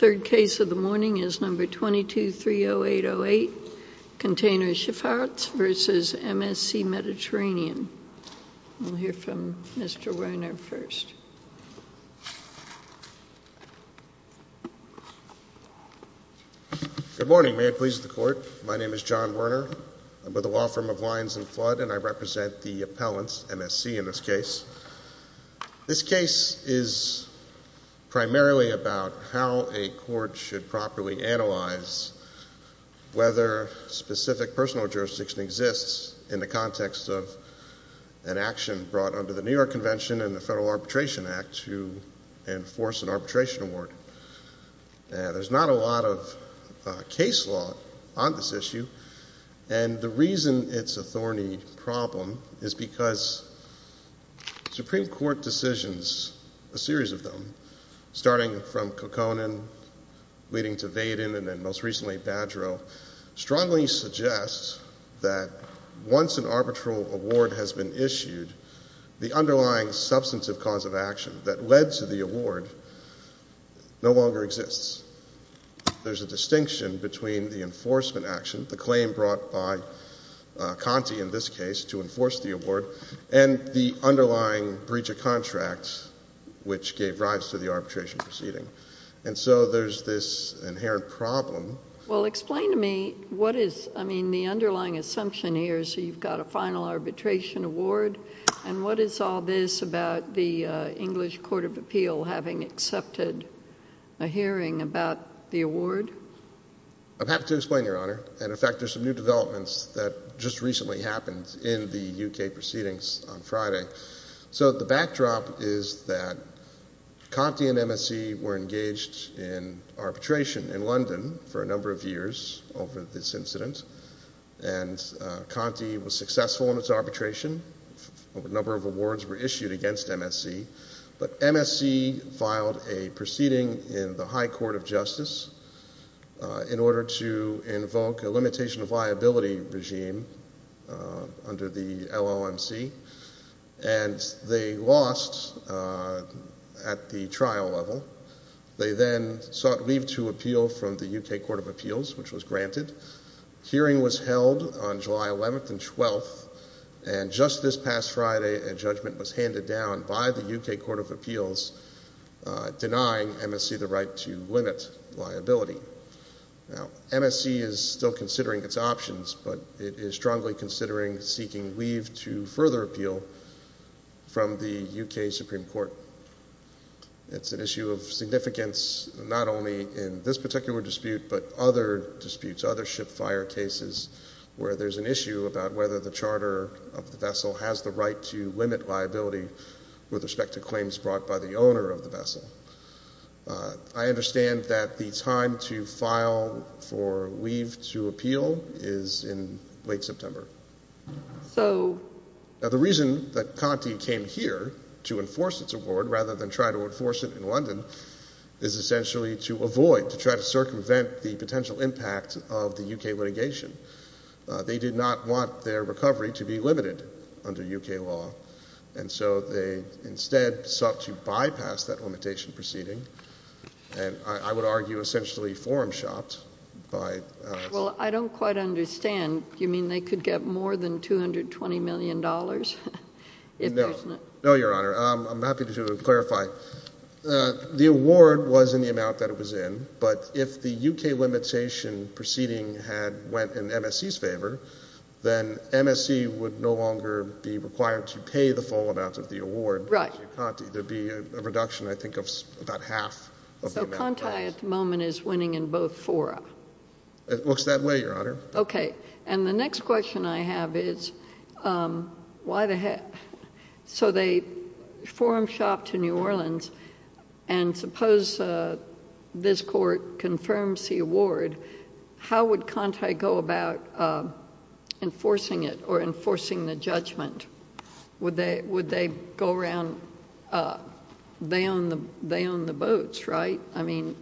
22-30808 Container Shp v. MSC Mediterranean Good morning. May it please the Court. My name is John Werner. I'm with the law firm of Lions and Flood, and I represent the appellants, MSC in this case. This case is primarily about how a court should properly analyze whether specific personal jurisdiction exists in the context of an action brought under the New York Convention and the Federal Arbitration Act to enforce an arbitration award. There's not a lot of case law on this issue, and the reason it's a thorny problem is because Supreme Court decisions, a series of them, starting from Kokkonen, leading to Vaden, and then most recently Badgero, strongly suggest that once an arbitral award has been issued, the underlying substantive cause of action that led to the award no longer exists. There's a distinction between the enforcement action, the claim brought by Conti in this case to enforce the award, and the underlying breach of contract, which gave rise to the arbitration proceeding. And so there's this inherent problem. Well, explain to me what is – I mean, the underlying assumption here is that you've got a final arbitration award, and what is all this about the English Court of Appeal having accepted a hearing about the award? I'm happy to explain, Your Honor. And in fact, there's some new developments that just recently happened in the UK proceedings on Friday. So the backdrop is that Conti and MSC were engaged in arbitration in London for a number of years over this incident, and Conti was successful in its arbitration. A number of awards were issued against MSC, but MSC filed a proceeding in the High Court of Justice in order to invoke a limitation of liability regime under the LOMC, and they lost at the trial level. They then sought leave to appeal from the UK Court of Appeals, which was granted. A hearing was held on July 11th and 12th, and just this past Friday, a judgment was handed down by the UK Court of Appeals denying MSC the right to limit liability. Now, MSC is still considering its options, but it is strongly considering seeking leave to further appeal from the UK Supreme Court. It's an issue of significance not only in this particular dispute but other disputes, other ship fire cases, where there's an issue about whether the charter of the vessel has the right to limit liability with respect to claims brought by the owner of the vessel. I understand that the time to file for leave to appeal is in late September. Now, the reason that Conti came here to enforce its award rather than try to enforce it in London is essentially to avoid, to try to circumvent the potential impact of the UK litigation. They did not want their recovery to be limited under UK law, and so they instead sought to bypass that limitation proceeding, and I would argue essentially forum shopped by MSC. Well, I don't quite understand. Do you mean they could get more than $220 million? No. No, Your Honor. I'm happy to clarify. The award was in the amount that it was in, but if the UK limitation proceeding had went in MSC's favor, then MSC would no longer be required to pay the full amount of the award to Conti. There'd be a reduction, I think, of about half of the amount. So Conti at the moment is winning in both fora. It looks that way, Your Honor. Okay. And the next question I have is, why the hell—so they forum shopped to New Orleans, and suppose this court confirms the award, how would Conti go about enforcing it or enforcing the judgment? Would they go around—they own the boats, right? I mean—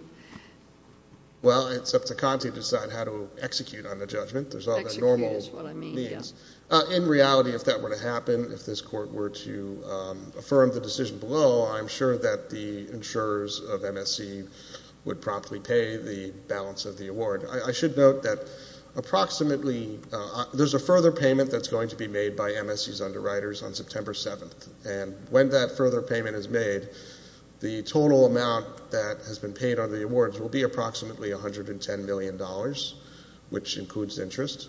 Well, it's up to Conti to decide how to execute on the judgment. There's all that normal means. Execute is what I mean, yeah. I should note that approximately—there's a further payment that's going to be made by MSC's underwriters on September 7th, and when that further payment is made, the total amount that has been paid on the awards will be approximately $110 million, which includes interest,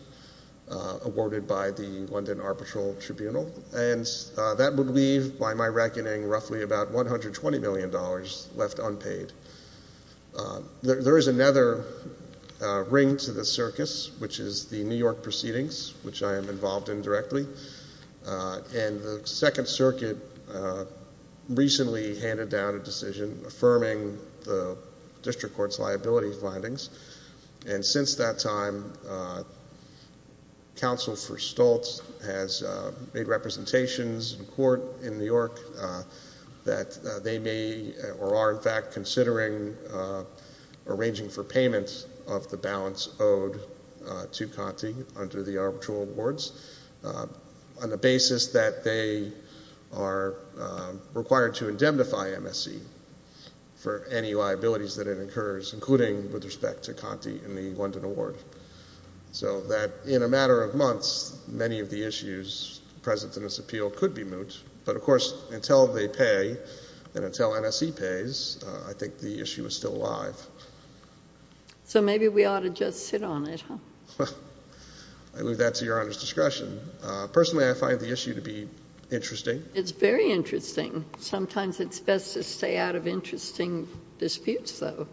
awarded by the London Arbitral Tribunal, and that would leave, by my reckoning, roughly about $120 million left unpaid. There is another ring to the circus, which is the New York proceedings, which I am involved in directly. And the Second Circuit recently handed down a decision affirming the district court's liability findings, and since that time, counsel for Stoltz has made representations in court in New York that they may or are, in fact, considering arranging for payments of the balance owed to Conti under the arbitral awards. On the basis that they are required to indemnify MSC for any liabilities that it incurs, including with respect to Conti and the London award. So that in a matter of months, many of the issues present in this appeal could be moot, but of course, until they pay, and until MSC pays, I think the issue is still alive. So maybe we ought to just sit on it, huh? I leave that to Your Honor's discretion. Personally, I find the issue to be interesting. It's very interesting. Sometimes it's best to stay out of interesting disputes, though.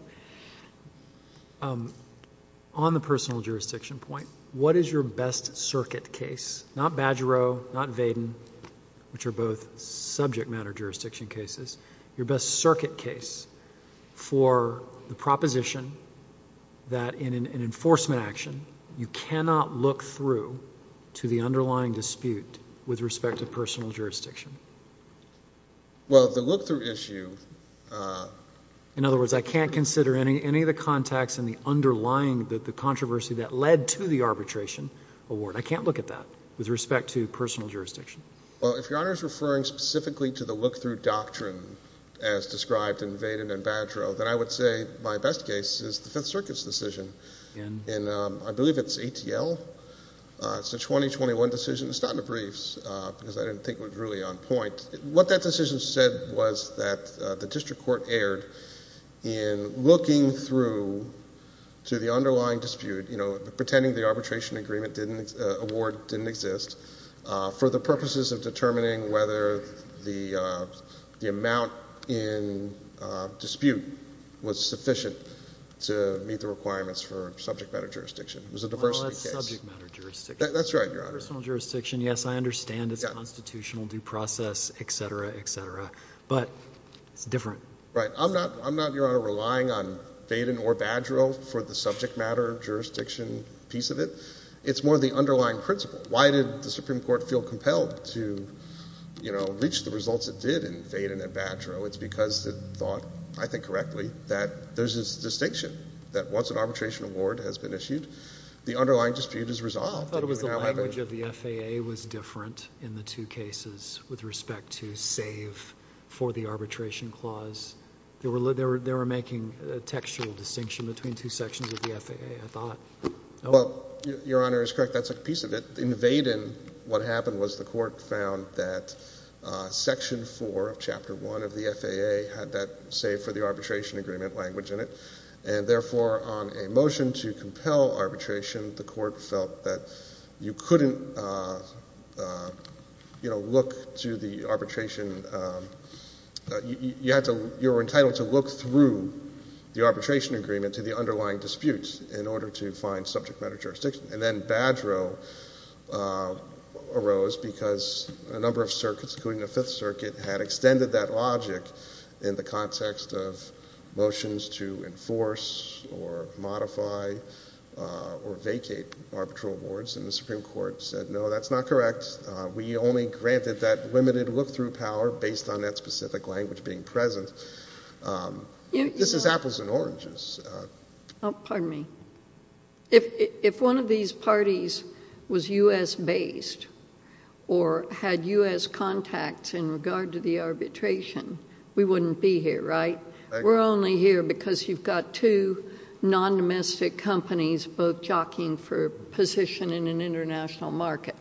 On the personal jurisdiction point, what is your best circuit case, not Badgeroe, not Vaden, which are both subject matter jurisdiction cases, your best circuit case for the proposition that in an enforcement action, you cannot look through to the underlying dispute with respect to personal jurisdiction? Well, the look-through issue— In other words, I can't consider any of the contacts in the underlying controversy that led to the arbitration award. I can't look at that with respect to personal jurisdiction. Well, if Your Honor is referring specifically to the look-through doctrine as described in Vaden and Badgeroe, then I would say my best case is the Fifth Circuit's decision. I believe it's ATL. It's a 2021 decision. It's not in the briefs because I didn't think it was really on point. What that decision said was that the district court erred in looking through to the underlying dispute, pretending the arbitration award didn't exist, for the purposes of determining whether the amount in dispute was sufficient to meet the requirements for subject matter jurisdiction. It was a diversity case. Well, that's subject matter jurisdiction. That's right, Your Honor. Yes, I understand it's constitutional due process, et cetera, et cetera. But it's different. Right. I'm not, Your Honor, relying on Vaden or Badgeroe for the subject matter jurisdiction piece of it. It's more the underlying principle. Why did the Supreme Court feel compelled to reach the results it did in Vaden and Badgeroe? It's because it thought, I think correctly, that there's this distinction that once an arbitration award has been issued, the underlying dispute is resolved. I thought it was the language of the FAA was different in the two cases with respect to save for the arbitration clause. They were making a textual distinction between two sections of the FAA, I thought. Well, Your Honor is correct. That's a piece of it. In Vaden, what happened was the court found that Section 4 of Chapter 1 of the FAA had that save for the arbitration agreement language in it. And therefore, on a motion to compel arbitration, the court felt that you couldn't, you know, look to the arbitration. You were entitled to look through the arbitration agreement to the underlying disputes in order to find subject matter jurisdiction. And then Badgeroe arose because a number of circuits, including the Fifth Circuit, had extended that logic in the context of motions to enforce or modify or vacate arbitral awards. And the Supreme Court said, no, that's not correct. We only granted that limited look-through power based on that specific language being present. This is apples and oranges. Pardon me. If one of these parties was U.S.-based or had U.S. contacts in regard to the arbitration, we wouldn't be here, right? We're only here because you've got two non-domestic companies both jockeying for a position in an international market.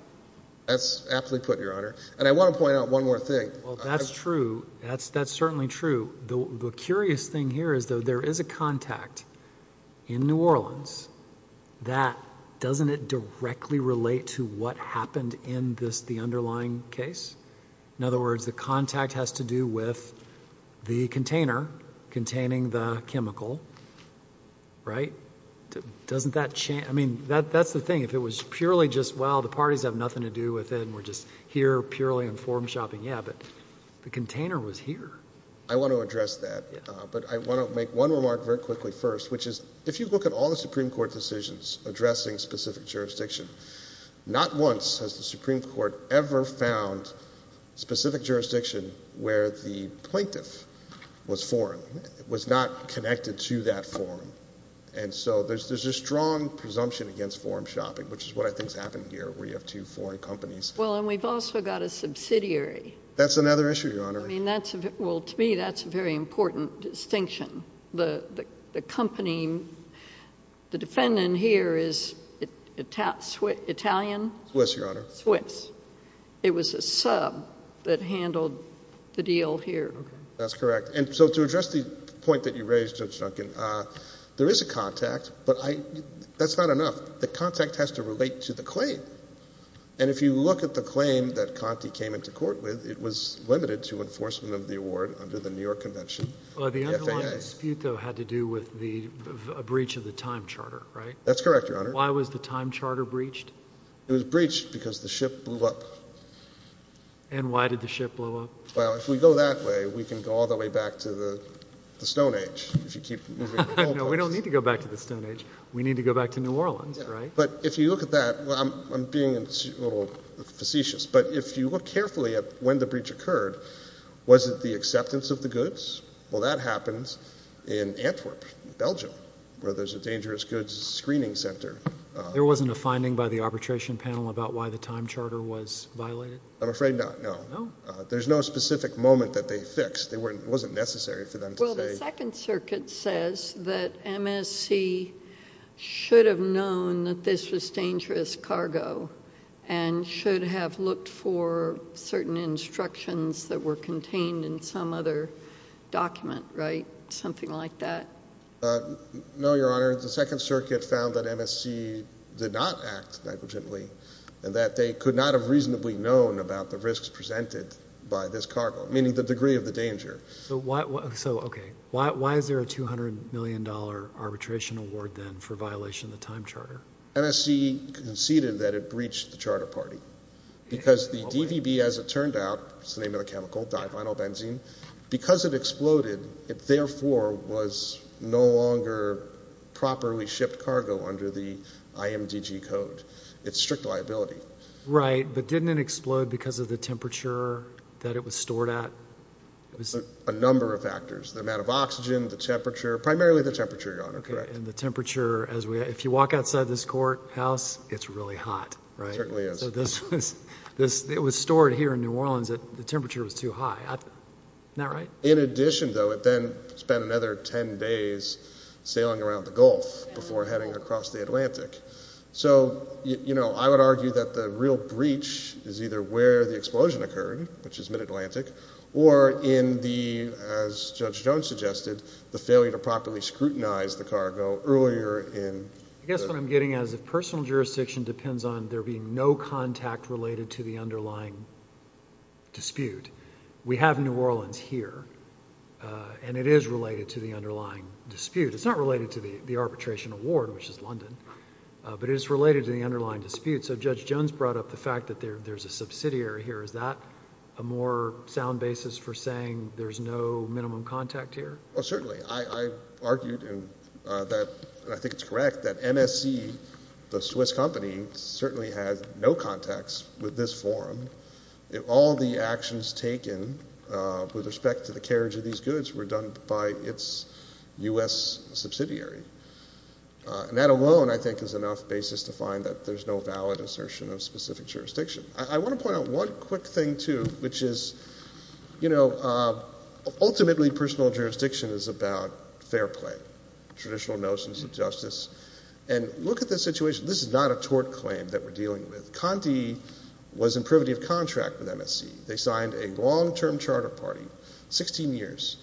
That's absolutely correct, Your Honor. And I want to point out one more thing. Well, that's true. That's certainly true. The curious thing here is, though, there is a contact in New Orleans that doesn't directly relate to what happened in the underlying case. In other words, the contact has to do with the container containing the chemical, right? Doesn't that change? I mean, that's the thing. If it was purely just, well, the parties have nothing to do with it and we're just here purely in form shopping, yeah, but the container was here. I want to address that, but I want to make one remark very quickly first, which is if you look at all the Supreme Court decisions addressing specific jurisdiction, not once has the Supreme Court ever found specific jurisdiction where the plaintiff was foreign, was not connected to that forum. And so there's a strong presumption against forum shopping, which is what I think has happened here where you have two foreign companies. Well, and we've also got a subsidiary. That's another issue, Your Honor. Well, to me, that's a very important distinction. The company, the defendant here is Italian? Swiss, Your Honor. Swiss. It was a sub that handled the deal here. That's correct. And so to address the point that you raised, Judge Duncan, there is a contact, but that's not enough. The contact has to relate to the claim. And if you look at the claim that Conte came into court with, it was limited to enforcement of the award under the New York Convention. Well, the underlying dispute, though, had to do with the breach of the time charter, right? That's correct, Your Honor. Why was the time charter breached? It was breached because the ship blew up. And why did the ship blow up? Well, if we go that way, we can go all the way back to the Stone Age if you keep moving. No, we don't need to go back to the Stone Age. We need to go back to New Orleans, right? But if you look at that, I'm being a little facetious, but if you look carefully at when the breach occurred, was it the acceptance of the goods? Well, that happens in Antwerp, Belgium, where there's a dangerous goods screening center. There wasn't a finding by the arbitration panel about why the time charter was violated? I'm afraid not, no. No? There's no specific moment that they fixed. It wasn't necessary for them to say. The Second Circuit says that MSC should have known that this was dangerous cargo and should have looked for certain instructions that were contained in some other document, right? Something like that? No, Your Honor. The Second Circuit found that MSC did not act negligently and that they could not have reasonably known about the risks presented by this cargo, meaning the degree of the danger. So, okay. Why is there a $200 million arbitration award then for violation of the time charter? MSC conceded that it breached the charter party because the DVB, as it turned out, that's the name of the chemical, divinyl benzene, because it exploded, it therefore was no longer properly shipped cargo under the IMDG code. It's strict liability. Right, but didn't it explode because of the temperature that it was stored at? A number of factors. The amount of oxygen, the temperature, primarily the temperature, Your Honor. Okay, and the temperature, if you walk outside this courthouse, it's really hot, right? It certainly is. It was stored here in New Orleans. The temperature was too high. Isn't that right? In addition, though, it then spent another 10 days sailing around the Gulf before heading across the Atlantic. So, you know, I would argue that the real breach is either where the explosion occurred, which is mid-Atlantic, or in the, as Judge Jones suggested, the failure to properly scrutinize the cargo earlier in. I guess what I'm getting at is if personal jurisdiction depends on there being no contact related to the underlying dispute, we have New Orleans here, and it is related to the underlying dispute. It's not related to the arbitration award, which is London, but it is related to the underlying dispute. So Judge Jones brought up the fact that there's a subsidiary here. Is that a more sound basis for saying there's no minimum contact here? Well, certainly. I argued, and I think it's correct, that MSC, the Swiss company, certainly has no contacts with this forum. All the actions taken with respect to the carriage of these goods were done by its U.S. subsidiary. And that alone, I think, is enough basis to find that there's no valid assertion of specific jurisdiction. I want to point out one quick thing, too, which is, you know, ultimately personal jurisdiction is about fair play, traditional notions of justice. And look at this situation. This is not a tort claim that we're dealing with. Conte was in privity of contract with MSC. They signed a long-term charter party, 16 years.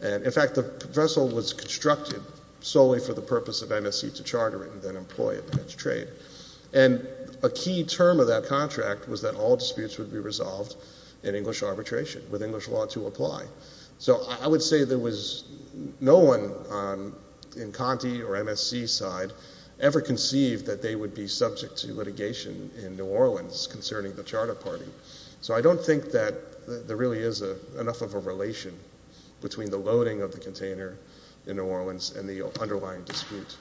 And, in fact, the vessel was constructed solely for the purpose of MSC to charter it and then employ it in its trade. And a key term of that contract was that all disputes would be resolved in English arbitration, with English law to apply. So I would say there was no one in Conte or MSC's side ever conceived that they would be subject to litigation in New Orleans concerning the charter party. So I don't think that there really is enough of a relation between the loading of the container in New Orleans and the underlying dispute.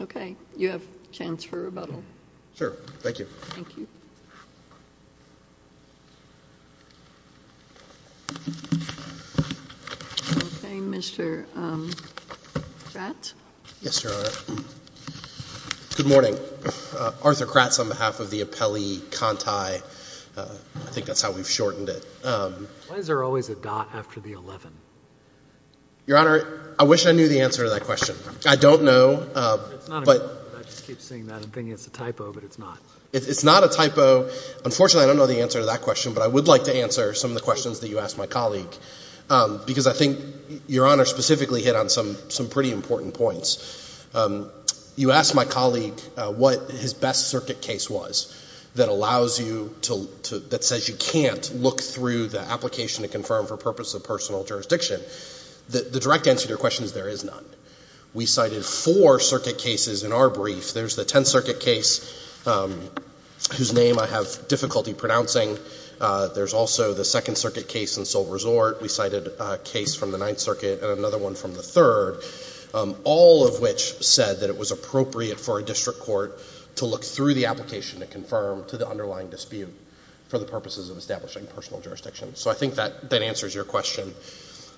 Okay. You have a chance for rebuttal. Sure. Thank you. Thank you. Okay. Mr. Stratt? Yes, Your Honor. Good morning. Arthur Kratz on behalf of the appellee, Conte. I think that's how we've shortened it. Why is there always a dot after the 11? Your Honor, I wish I knew the answer to that question. I don't know. It's not a typo. I just keep seeing that and thinking it's a typo, but it's not. It's not a typo. Unfortunately, I don't know the answer to that question, but I would like to answer some of the questions that you asked my colleague, because I think Your Honor specifically hit on some pretty important points. You asked my colleague what his best circuit case was that says you can't look through the application to confirm for purposes of personal jurisdiction. The direct answer to your question is there is none. We cited four circuit cases in our brief. There's the Tenth Circuit case, whose name I have difficulty pronouncing. There's also the Second Circuit case in Seoul Resort. We cited a case from the Ninth Circuit and another one from the Third, all of which said that it was appropriate for a district court to look through the application to confirm to the underlying dispute for the purposes of establishing personal jurisdiction. So I think that answers your question.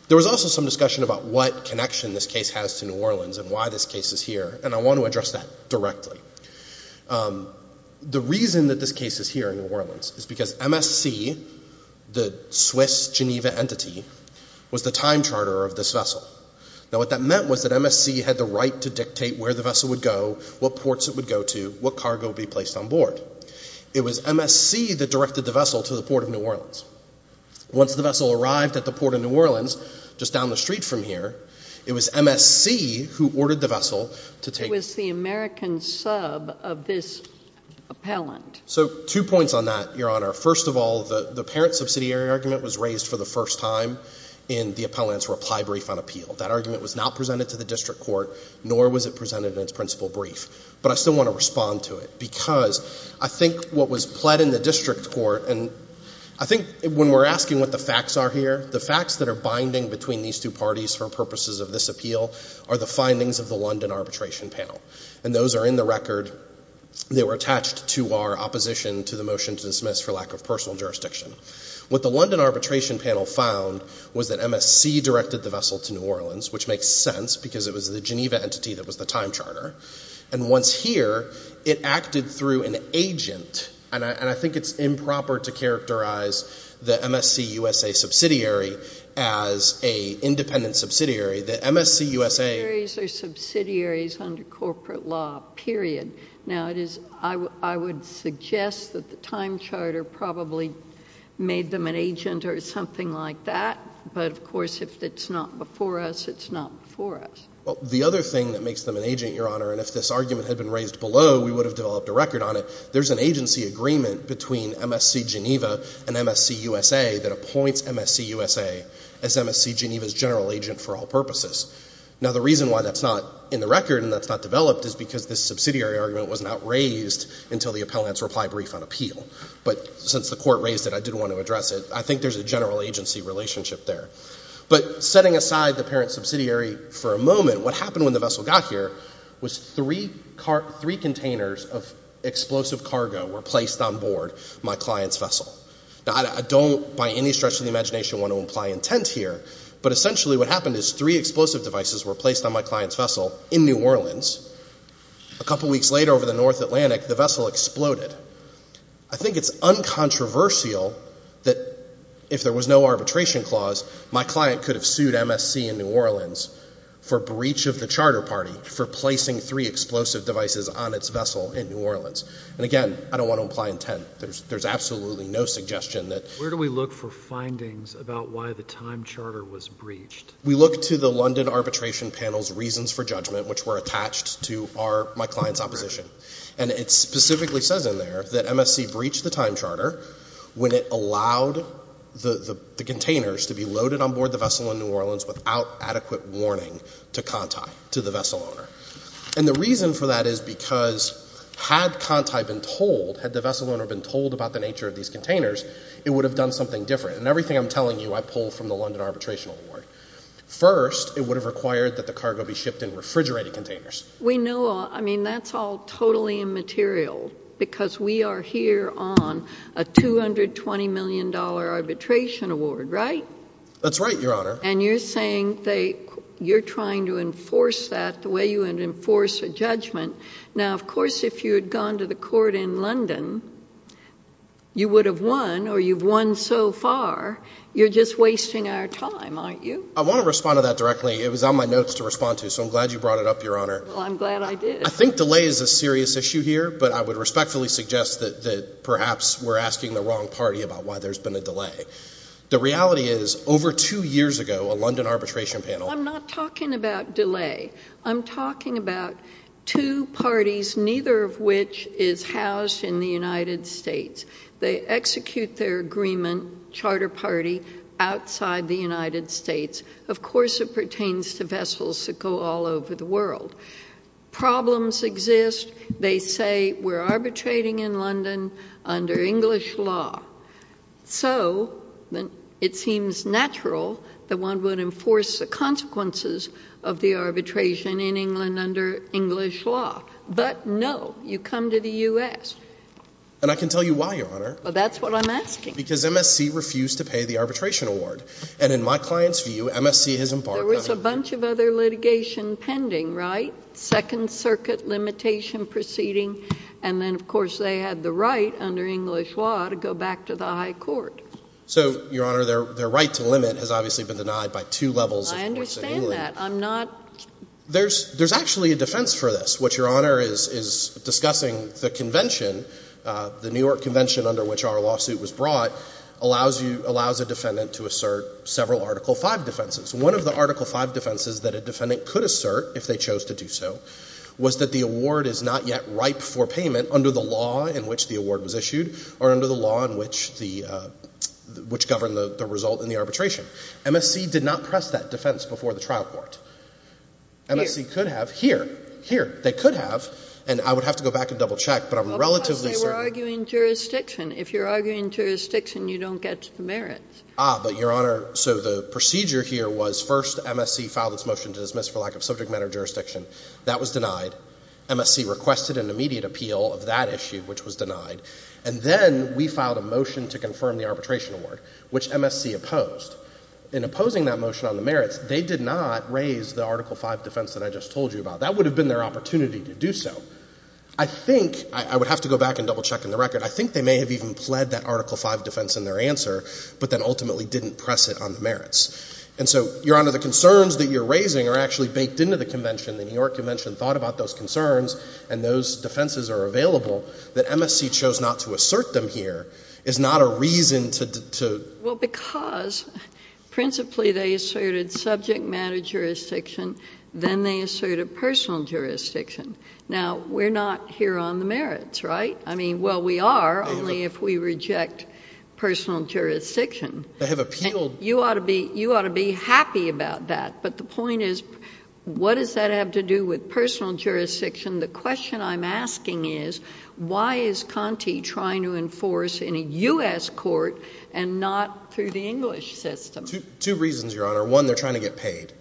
There was also some discussion about what connection this case has to New Orleans and why this case is here, and I want to address that directly. The reason that this case is here in New Orleans is because MSC, the Swiss Geneva entity, was the time charter of this vessel. Now, what that meant was that MSC had the right to dictate where the vessel would go, what ports it would go to, what cargo would be placed on board. It was MSC that directed the vessel to the port of New Orleans. Once the vessel arrived at the port of New Orleans, just down the street from here, it was MSC who ordered the vessel to take— It was the American sub of this appellant. So two points on that, Your Honor. First of all, the parent subsidiary argument was raised for the first time in the appellant's reply brief on appeal. That argument was not presented to the district court, nor was it presented in its principal brief. But I still want to respond to it because I think what was pled in the district court— And I think when we're asking what the facts are here, the facts that are binding between these two parties for purposes of this appeal are the findings of the London arbitration panel. And those are in the record. They were attached to our opposition to the motion to dismiss for lack of personal jurisdiction. What the London arbitration panel found was that MSC directed the vessel to New Orleans, which makes sense because it was the Geneva entity that was the time charter. And once here, it acted through an agent. And I think it's improper to characterize the MSC-USA subsidiary as an independent subsidiary. The MSC-USA— Subsidiaries are subsidiaries under corporate law, period. Now, it is—I would suggest that the time charter probably made them an agent or something like that. But, of course, if it's not before us, it's not before us. The other thing that makes them an agent, Your Honor, and if this argument had been raised below, we would have developed a record on it, there's an agency agreement between MSC-Geneva and MSC-USA that appoints MSC-USA as MSC-Geneva's general agent for all purposes. Now, the reason why that's not in the record and that's not developed is because this subsidiary argument was not raised until the appellant's reply brief on appeal. But since the court raised it, I did want to address it. I think there's a general agency relationship there. But setting aside the parent subsidiary for a moment, what happened when the vessel got here was three containers of explosive cargo were placed on board my client's vessel. Now, I don't by any stretch of the imagination want to imply intent here, but essentially what happened is three explosive devices were placed on my client's vessel in New Orleans. A couple weeks later over the North Atlantic, the vessel exploded. I think it's uncontroversial that if there was no arbitration clause, my client could have sued MSC in New Orleans for breach of the charter party for placing three explosive devices on its vessel in New Orleans. And again, I don't want to imply intent. There's absolutely no suggestion that — Where do we look for findings about why the time charter was breached? We look to the London arbitration panel's reasons for judgment, which were attached to my client's opposition. And it specifically says in there that MSC breached the time charter when it allowed the containers to be loaded on board the vessel in New Orleans without adequate warning to Conti, to the vessel owner. And the reason for that is because had Conti been told, had the vessel owner been told about the nature of these containers, it would have done something different. And everything I'm telling you I pulled from the London arbitration award. First, it would have required that the cargo be shipped in refrigerated containers. We know — I mean, that's all totally immaterial because we are here on a $220 million arbitration award, right? That's right, Your Honor. And you're saying that you're trying to enforce that the way you would enforce a judgment. Now, of course, if you had gone to the court in London, you would have won or you've won so far. You're just wasting our time, aren't you? I want to respond to that directly. It was on my notes to respond to, so I'm glad you brought it up, Your Honor. Well, I'm glad I did. I think delay is a serious issue here, but I would respectfully suggest that perhaps we're asking the wrong party about why there's been a delay. The reality is over two years ago, a London arbitration panel — I'm not talking about delay. I'm talking about two parties, neither of which is housed in the United States. They execute their agreement, charter party, outside the United States. Of course it pertains to vessels that go all over the world. Problems exist. They say we're arbitrating in London under English law. So it seems natural that one would enforce the consequences of the arbitration in England under English law. But no, you come to the U.S. And I can tell you why, Your Honor. Well, that's what I'm asking. Because MSC refused to pay the arbitration award. And in my client's view, MSC has embarked on — There was a bunch of other litigation pending, right? Second Circuit limitation proceeding. And then, of course, they had the right under English law to go back to the high court. So, Your Honor, their right to limit has obviously been denied by two levels of courts in England. I understand that. I'm not — There's actually a defense for this. What Your Honor is discussing, the convention, the New York convention under which our lawsuit was brought, allows a defendant to assert several Article V defenses. One of the Article V defenses that a defendant could assert, if they chose to do so, was that the award is not yet ripe for payment under the law in which the award was issued or under the law in which the — which governed the result in the arbitration. MSC did not press that defense before the trial court. MSC could have here. They could have. And I would have to go back and double-check, but I'm relatively certain — Because they were arguing jurisdiction. If you're arguing jurisdiction, you don't get the merits. Ah, but, Your Honor, so the procedure here was first MSC filed its motion to dismiss for lack of subject matter jurisdiction. That was denied. MSC requested an immediate appeal of that issue, which was denied. And then we filed a motion to confirm the arbitration award, which MSC opposed. In opposing that motion on the merits, they did not raise the Article V defense that I just told you about. That would have been their opportunity to do so. I think — I would have to go back and double-check on the record. I think they may have even pled that Article V defense in their answer, but then ultimately didn't press it on the merits. And so, Your Honor, the concerns that you're raising are actually baked into the convention. The New York Convention thought about those concerns, and those defenses are available. That MSC chose not to assert them here is not a reason to — Well, because principally they asserted subject matter jurisdiction. Then they asserted personal jurisdiction. Now, we're not here on the merits, right? I mean, well, we are, only if we reject personal jurisdiction. I have appealed — You ought to be — you ought to be happy about that. But the point is, what does that have to do with personal jurisdiction? The question I'm asking is, why is Conte trying to enforce in a U.S. court and not through the English system? Two reasons, Your Honor. One, they're trying to get paid.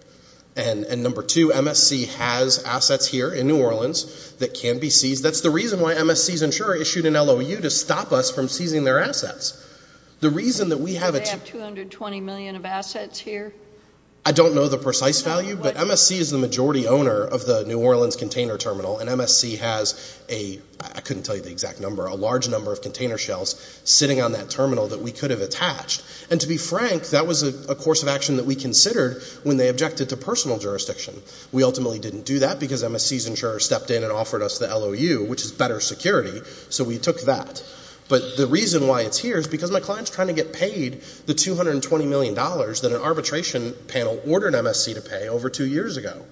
And number two, MSC has assets here in New Orleans that can be seized. That's the reason why MSC's insurer issued an LOU to stop us from seizing their assets. The reason that we have a — Do they have 220 million of assets here? I don't know the precise value. MSC is the majority owner of the New Orleans container terminal. And MSC has a — I couldn't tell you the exact number — a large number of container shells sitting on that terminal that we could have attached. And to be frank, that was a course of action that we considered when they objected to personal jurisdiction. We ultimately didn't do that because MSC's insurer stepped in and offered us the LOU, which is better security. So we took that. But the reason why it's here is because my client's trying to get paid the $220 million that an arbitration panel ordered MSC to pay over two years ago.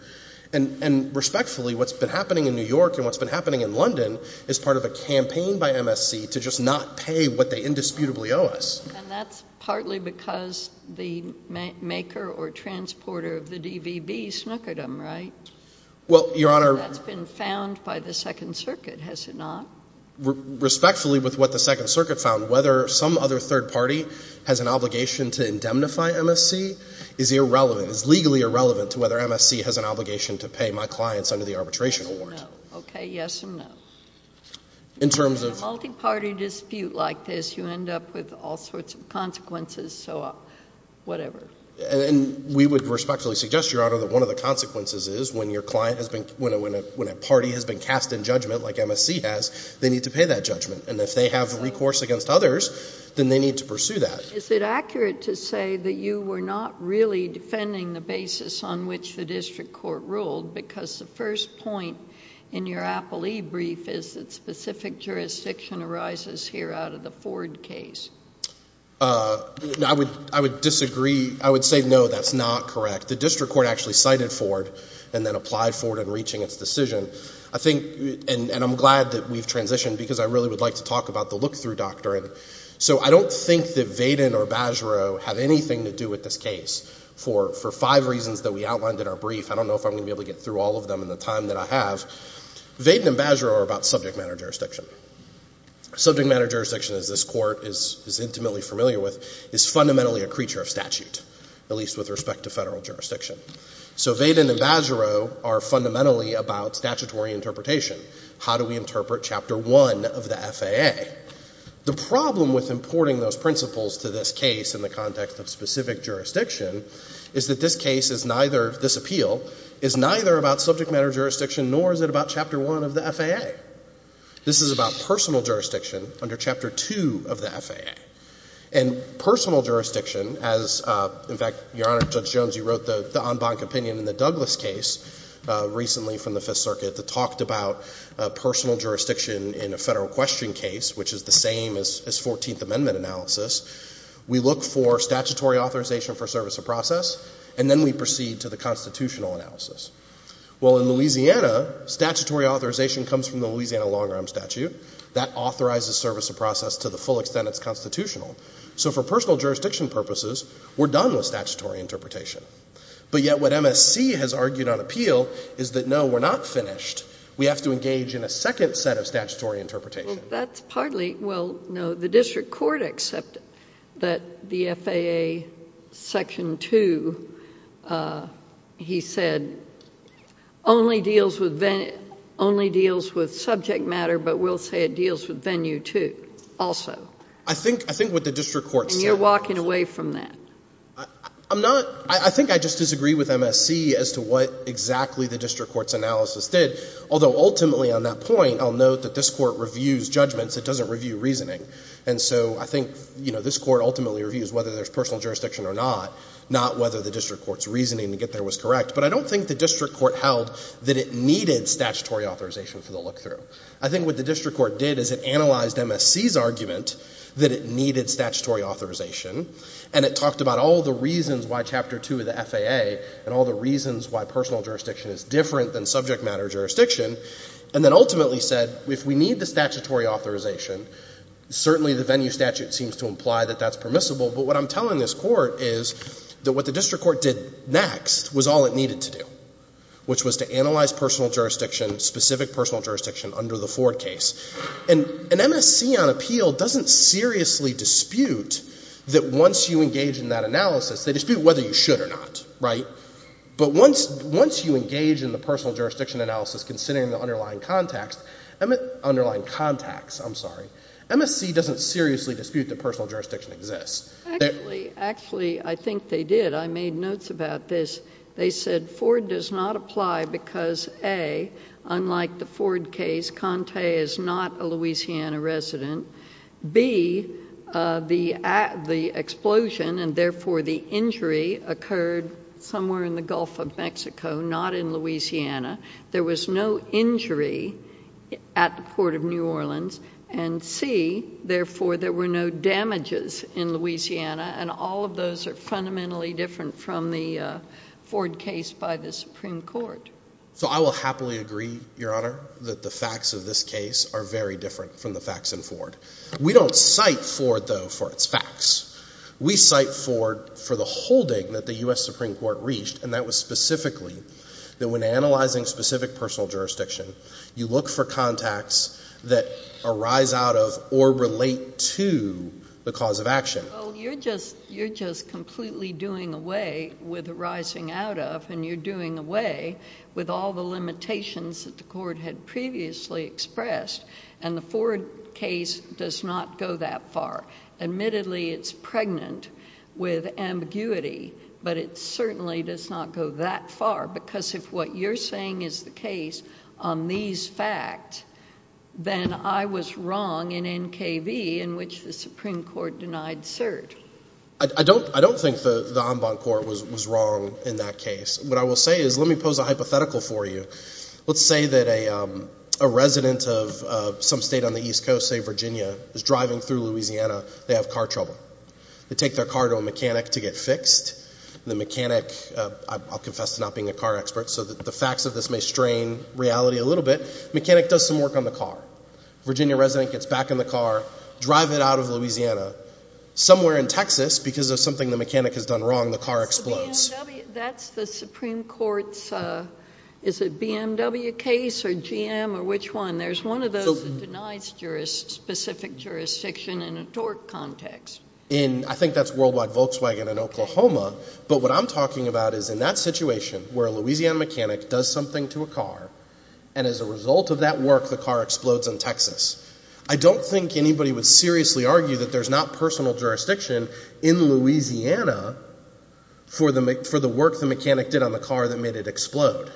And respectfully, what's been happening in New York and what's been happening in London is part of a campaign by MSC to just not pay what they indisputably owe us. And that's partly because the maker or transporter of the DVB snuck at them, right? Well, Your Honor — That's been found by the Second Circuit, has it not? Respectfully, with what the Second Circuit found, whether some other third party has an obligation to indemnify MSC is irrelevant, is legally irrelevant to whether MSC has an obligation to pay my clients under the arbitration award. No. Okay, yes and no. In terms of — In a multiparty dispute like this, you end up with all sorts of consequences, so whatever. And we would respectfully suggest, Your Honor, that one of the consequences is when your client has been — when a party has been cast in judgment like MSC has, they need to pay that judgment. And if they have recourse against others, then they need to pursue that. Is it accurate to say that you were not really defending the basis on which the district court ruled? Because the first point in your Apple e-brief is that specific jurisdiction arises here out of the Ford case. I would disagree. I would say no, that's not correct. The district court actually cited Ford and then applied Ford in reaching its decision. I think — and I'm glad that we've transitioned because I really would like to talk about the look-through doctrine. So I don't think that Vaden or Bajoreau have anything to do with this case for five reasons that we outlined in our brief. I don't know if I'm going to be able to get through all of them in the time that I have. Vaden and Bajoreau are about subject matter jurisdiction. Subject matter jurisdiction, as this Court is intimately familiar with, is fundamentally a creature of statute, at least with respect to federal jurisdiction. So Vaden and Bajoreau are fundamentally about statutory interpretation. How do we interpret Chapter 1 of the FAA? The problem with importing those principles to this case in the context of specific jurisdiction is that this case is neither — this appeal is neither about subject matter jurisdiction nor is it about Chapter 1 of the FAA. This is about personal jurisdiction under Chapter 2 of the FAA. And personal jurisdiction as — in fact, Your Honor, Judge Jones, you wrote the en banc opinion in the Douglas case recently from the Fifth Circuit that talked about personal jurisdiction in a federal question case, which is the same as 14th Amendment analysis. We look for statutory authorization for service of process, and then we proceed to the constitutional analysis. Well, in Louisiana, statutory authorization comes from the Louisiana long-arm statute. That authorizes service of process to the full extent it's constitutional. So for personal jurisdiction purposes, we're done with statutory interpretation. But yet what MSC has argued on appeal is that, no, we're not finished. We have to engage in a second set of statutory interpretation. Well, that's partly — well, no, the district court accepted that the FAA Section 2, he said, only deals with — only deals with subject matter, but will say it deals with venue, too, also. I think — I think what the district court said — And you're walking away from that. I'm not — I think I just disagree with MSC as to what exactly the district court's analysis did, although ultimately on that point, I'll note that this court reviews judgments. It doesn't review reasoning. And so I think, you know, this court ultimately reviews whether there's personal jurisdiction or not, not whether the district court's reasoning to get there was correct. But I don't think the district court held that it needed statutory authorization for the look-through. I think what the district court did is it analyzed MSC's argument that it needed statutory authorization, and it talked about all the reasons why Chapter 2 of the FAA, and all the reasons why personal jurisdiction is different than subject matter jurisdiction, and then ultimately said, if we need the statutory authorization, certainly the venue statute seems to imply that that's permissible. But what I'm telling this court is that what the district court did next was all it needed to do, which was to analyze personal jurisdiction, specific personal jurisdiction under the Ford case. And MSC on appeal doesn't seriously dispute that once you engage in that analysis, they dispute whether you should or not, right? But once you engage in the personal jurisdiction analysis considering the underlying context, underlying contacts, I'm sorry, MSC doesn't seriously dispute that personal jurisdiction exists. Actually, actually, I think they did. I made notes about this. They said Ford does not apply because, A, unlike the Ford case, Conte is not a Louisiana resident. B, the explosion and, therefore, the injury occurred somewhere in the Gulf of Mexico, not in Louisiana. There was no injury at the Port of New Orleans. And, C, therefore, there were no damages in Louisiana, and all of those are fundamentally different from the Ford case by the Supreme Court. So I will happily agree, Your Honor, that the facts of this case are very different from the facts in Ford. We don't cite Ford, though, for its facts. We cite Ford for the holding that the U.S. Supreme Court reached, and that was specifically that when analyzing specific personal jurisdiction, you look for contacts that arise out of or relate to the cause of action. Well, you're just completely doing away with arising out of, and you're doing away with all the limitations that the court had previously expressed, and the Ford case does not go that far. Admittedly, it's pregnant with ambiguity, but it certainly does not go that far, because if what you're saying is the case on these facts, then I was wrong in NKV in which the Supreme Court denied cert. I don't think the en banc court was wrong in that case. What I will say is let me pose a hypothetical for you. Let's say that a resident of some state on the East Coast, say Virginia, is driving through Louisiana. They have car trouble. They take their car to a mechanic to get fixed, and the mechanic, I'll confess to not being a car expert, so the facts of this may strain reality a little bit. The mechanic does some work on the car. Virginia resident gets back in the car, drives it out of Louisiana. Somewhere in Texas, because of something the mechanic has done wrong, the car explodes. That's the Supreme Court's, is it BMW case or GM or which one? There's one of those that denies specific jurisdiction in a tort context. I think that's Worldwide Volkswagen in Oklahoma, but what I'm talking about is in that situation where a Louisiana mechanic does something to a car and as a result of that work, the car explodes in Texas. I don't think anybody would seriously argue that there's not personal jurisdiction in Louisiana for the work the mechanic did on the car that made it explode.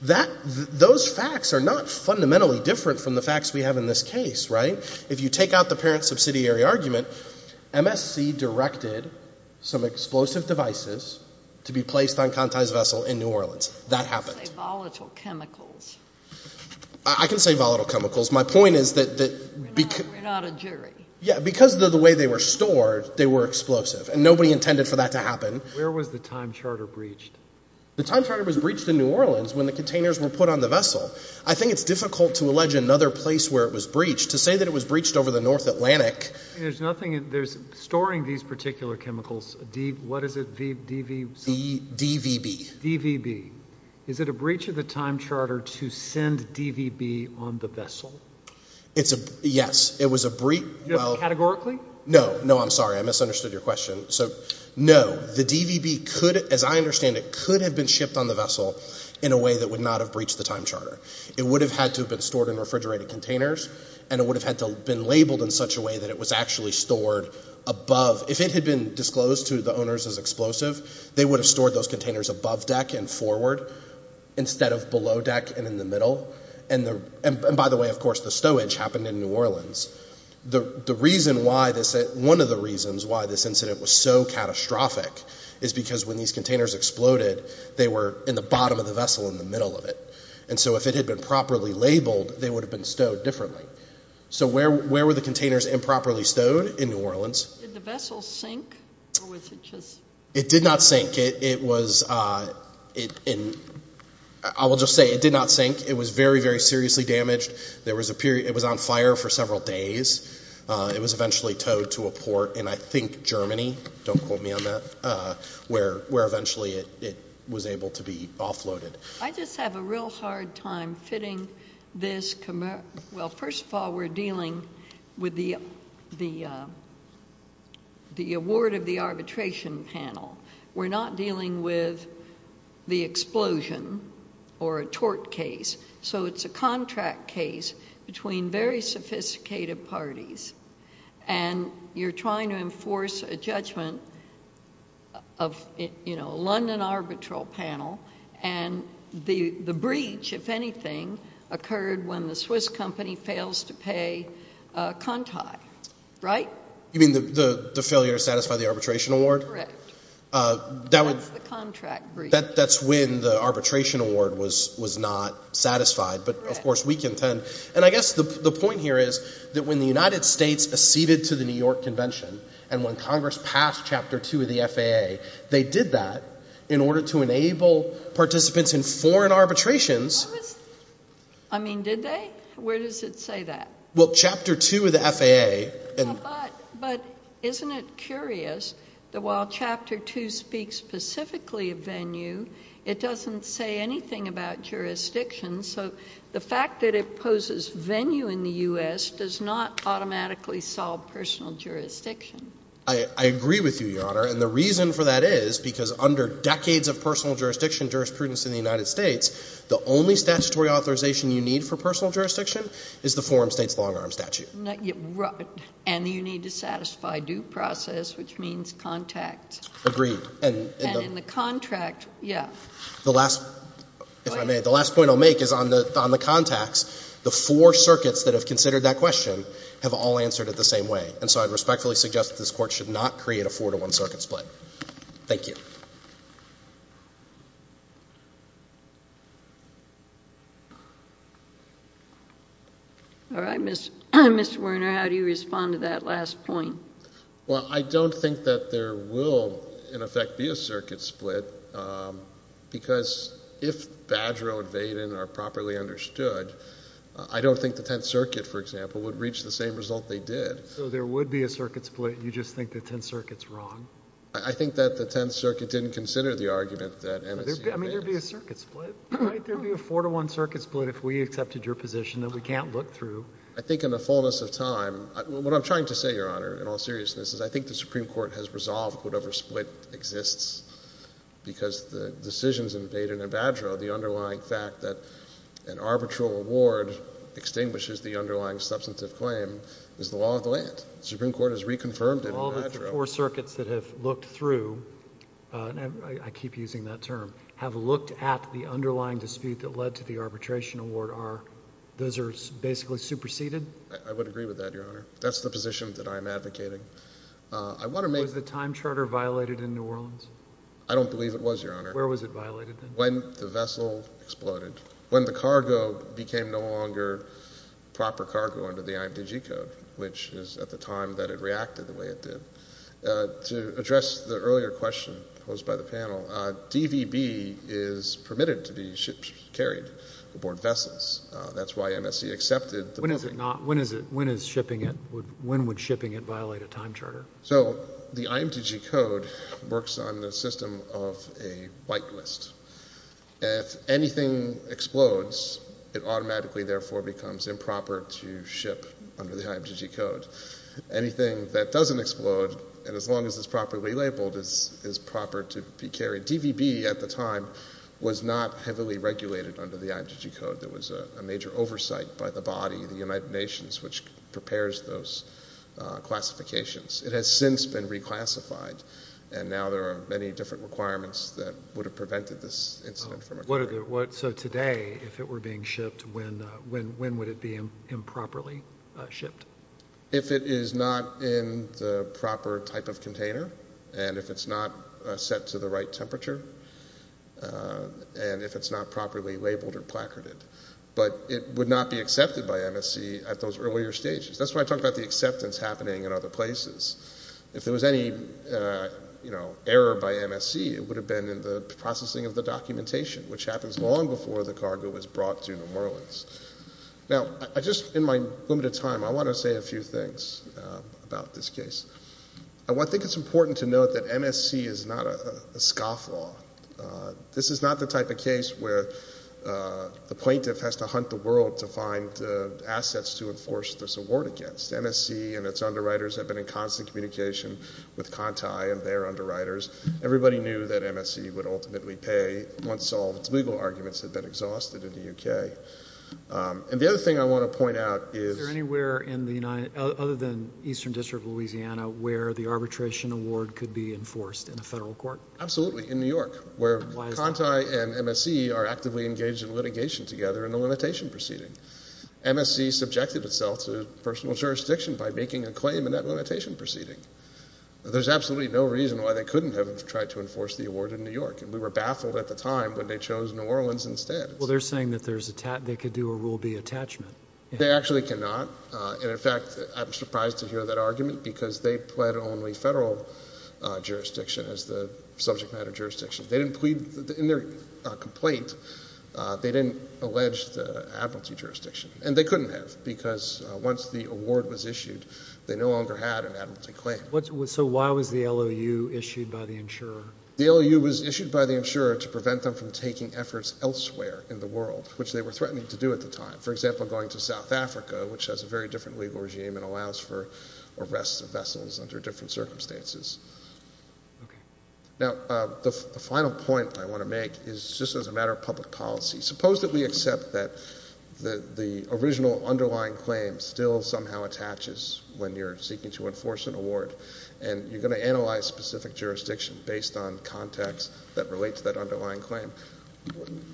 Those facts are not fundamentally different from the facts we have in this case, right? If you take out the parent subsidiary argument, MSC directed some explosive devices to be placed on Conti's vessel in New Orleans. That happened. You say volatile chemicals. I can say volatile chemicals. My point is that because of the way they were stored, they were explosive, and nobody intended for that to happen. Where was the time charter breached? The time charter was breached in New Orleans when the containers were put on the vessel. I think it's difficult to allege another place where it was breached. To say that it was breached over the North Atlantic— There's nothing—storing these particular chemicals, what is it, DVB? DVB. DVB. Is it a breach of the time charter to send DVB on the vessel? Yes. It was a breach— Categorically? No. No, I'm sorry. I misunderstood your question. No. The DVB could, as I understand it, could have been shipped on the vessel in a way that would not have breached the time charter. It would have had to have been stored in refrigerated containers, and it would have had to have been labeled in such a way that it was actually stored above. If it had been disclosed to the owners as explosive, they would have stored those containers above deck and forward instead of below deck and in the middle. By the way, of course, the stowage happened in New Orleans. One of the reasons why this incident was so catastrophic is because when these containers exploded, they were in the bottom of the vessel in the middle of it. So if it had been properly labeled, they would have been stowed differently. So where were the containers improperly stowed in New Orleans? Did the vessel sink? It did not sink. I will just say it did not sink. It was very, very seriously damaged. It was on fire for several days. It was eventually towed to a port in, I think, Germany. Don't quote me on that. Where eventually it was able to be offloaded. I just have a real hard time fitting this. Well, first of all, we're dealing with the award of the arbitration panel. We're not dealing with the explosion or a tort case. So it's a contract case between very sophisticated parties. And you're trying to enforce a judgment of a London arbitral panel. And the breach, if anything, occurred when the Swiss company fails to pay Conti, right? You mean the failure to satisfy the arbitration award? Correct. That's the contract breach. That's when the arbitration award was not satisfied. But, of course, we contend. And I guess the point here is that when the United States acceded to the New York Convention and when Congress passed Chapter 2 of the FAA, they did that in order to enable participants in foreign arbitrations. I mean, did they? Where does it say that? Well, Chapter 2 of the FAA. But isn't it curious that while Chapter 2 speaks specifically of venue, it doesn't say anything about jurisdiction. So the fact that it poses venue in the U.S. does not automatically solve personal jurisdiction. I agree with you, Your Honor. And the reason for that is because under decades of personal jurisdiction jurisprudence in the United States, the only statutory authorization you need for personal jurisdiction is the forum state's long-arm statute. Right. And you need to satisfy due process, which means contact. Agreed. And in the contract, yes. The last point I'll make is on the contacts. The four circuits that have considered that question have all answered it the same way. And so I respectfully suggest that this Court should not create a four-to-one circuit split. Thank you. All right. Mr. Werner, how do you respond to that last point? Well, I don't think that there will, in effect, be a circuit split, because if Badgero and Vaden are properly understood, I don't think the Tenth Circuit, for example, would reach the same result they did. So there would be a circuit split. You just think the Tenth Circuit's wrong? I think that the Tenth Circuit didn't consider the argument that MSU did. I mean, there would be a circuit split, right? There would be a four-to-one circuit split if we accepted your position that we can't look through. I think in the fullness of time, what I'm trying to say, Your Honor, in all seriousness, is I think the Supreme Court has resolved whatever split exists, because the decisions in Vaden and Badgero, the underlying fact that an arbitral award extinguishes the underlying substantive claim is the law of the land. The Supreme Court has reconfirmed it in Badgero. All the four circuits that have looked through, and I keep using that term, have looked at the underlying dispute that led to the arbitration award. Those are basically superseded? I would agree with that, Your Honor. That's the position that I'm advocating. Was the time charter violated in New Orleans? I don't believe it was, Your Honor. Where was it violated then? When the vessel exploded. When the cargo became no longer proper cargo under the IMTG Code, which is at the time that it reacted the way it did. To address the earlier question posed by the panel, DVB is permitted to be shipped, carried aboard vessels. That's why MSC accepted the provision. When is it not? When is it? When is shipping it? When would shipping it violate a time charter? The IMTG Code works on the system of a whitelist. If anything explodes, it automatically therefore becomes improper to ship under the IMTG Code. Anything that doesn't explode, as long as it's properly labeled, is proper to be carried. DVB at the time was not heavily regulated under the IMTG Code. There was a major oversight by the body, the United Nations, which prepares those classifications. It has since been reclassified, and now there are many different requirements that would have prevented this incident from occurring. So today, if it were being shipped, when would it be improperly shipped? If it is not in the proper type of container, and if it's not set to the right temperature, and if it's not properly labeled or placarded. But it would not be accepted by MSC at those earlier stages. That's why I talk about the acceptance happening in other places. If there was any error by MSC, it would have been in the processing of the documentation, which happens long before the cargo is brought to New Orleans. Now, just in my limited time, I want to say a few things about this case. I think it's important to note that MSC is not a scoff law. This is not the type of case where the plaintiff has to hunt the world to find assets to enforce this award against. MSC and its underwriters have been in constant communication with Conti and their underwriters. Everybody knew that MSC would ultimately pay once all its legal arguments had been exhausted in the U.K. And the other thing I want to point out is— Is there anywhere in the United—other than Eastern District of Louisiana where the arbitration award could be enforced in a federal court? Absolutely, in New York, where Conti and MSC are actively engaged in litigation together in a limitation proceeding. MSC subjected itself to personal jurisdiction by making a claim in that limitation proceeding. There's absolutely no reason why they couldn't have tried to enforce the award in New York, and we were baffled at the time when they chose New Orleans instead. Well, they're saying that they could do a Rule B attachment. They actually cannot. And, in fact, I was surprised to hear that argument because they pled only federal jurisdiction as the subject matter jurisdiction. They didn't plead—in their complaint, they didn't allege the admiralty jurisdiction. And they couldn't have because once the award was issued, they no longer had an admiralty claim. So why was the LOU issued by the insurer? The LOU was issued by the insurer to prevent them from taking efforts elsewhere in the world, which they were threatening to do at the time. For example, going to South Africa, which has a very different legal regime and allows for arrests of vessels under different circumstances. Now, the final point I want to make is just as a matter of public policy. Suppose that we accept that the original underlying claim still somehow attaches when you're seeking to enforce an award, and you're going to analyze specific jurisdiction based on context that relates to that underlying claim.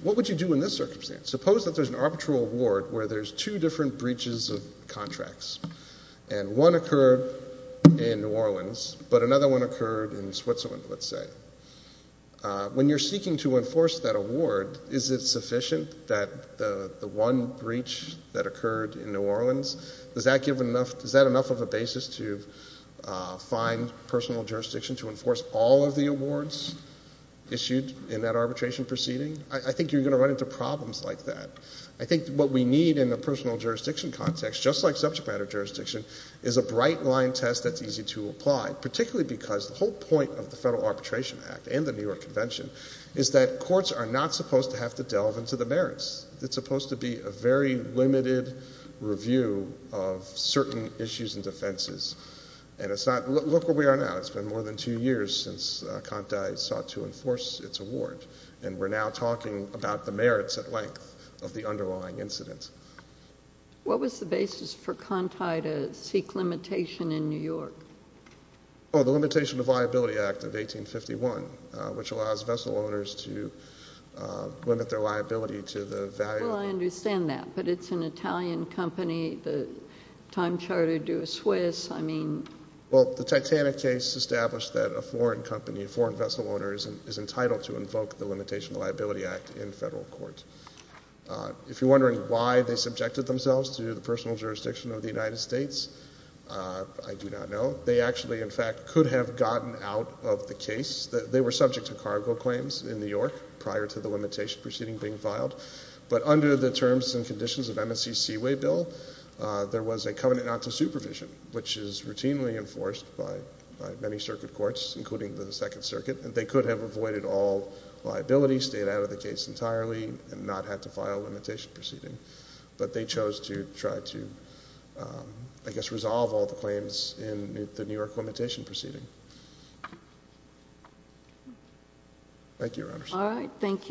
What would you do in this circumstance? Suppose that there's an arbitral award where there's two different breaches of contracts. And one occurred in New Orleans, but another one occurred in Switzerland, let's say. When you're seeking to enforce that award, is it sufficient that the one breach that occurred in New Orleans, does that give enough—is that enough of a basis to find personal jurisdiction to enforce all of the awards issued in that arbitration proceeding? I think you're going to run into problems like that. I think what we need in a personal jurisdiction context, just like subject matter jurisdiction, is a bright-line test that's easy to apply, particularly because the whole point of the Federal Arbitration Act and the New York Convention is that courts are not supposed to have to delve into the merits. It's supposed to be a very limited review of certain issues and defenses. And it's not—look where we are now. It's been more than two years since Conti sought to enforce its award, and we're now talking about the merits at length of the underlying incidents. What was the basis for Conti to seek limitation in New York? Oh, the Limitation of Liability Act of 1851, which allows vessel owners to limit their liability to the value of— Well, I understand that, but it's an Italian company. The time chartered to a Swiss. Well, the Titanic case established that a foreign company, a foreign vessel owner, is entitled to invoke the Limitation of Liability Act in federal court. If you're wondering why they subjected themselves to the personal jurisdiction of the United States, I do not know. They actually, in fact, could have gotten out of the case. They were subject to cargo claims in New York prior to the limitation proceeding being filed. But under the terms and conditions of MSC's Seaway Bill, there was a covenant not to supervision, which is routinely enforced by many circuit courts, including the Second Circuit. They could have avoided all liability, stayed out of the case entirely, and not had to file a limitation proceeding. But they chose to try to, I guess, resolve all the claims in the New York limitation proceeding. Thank you, Your Honors. All right. Thank you.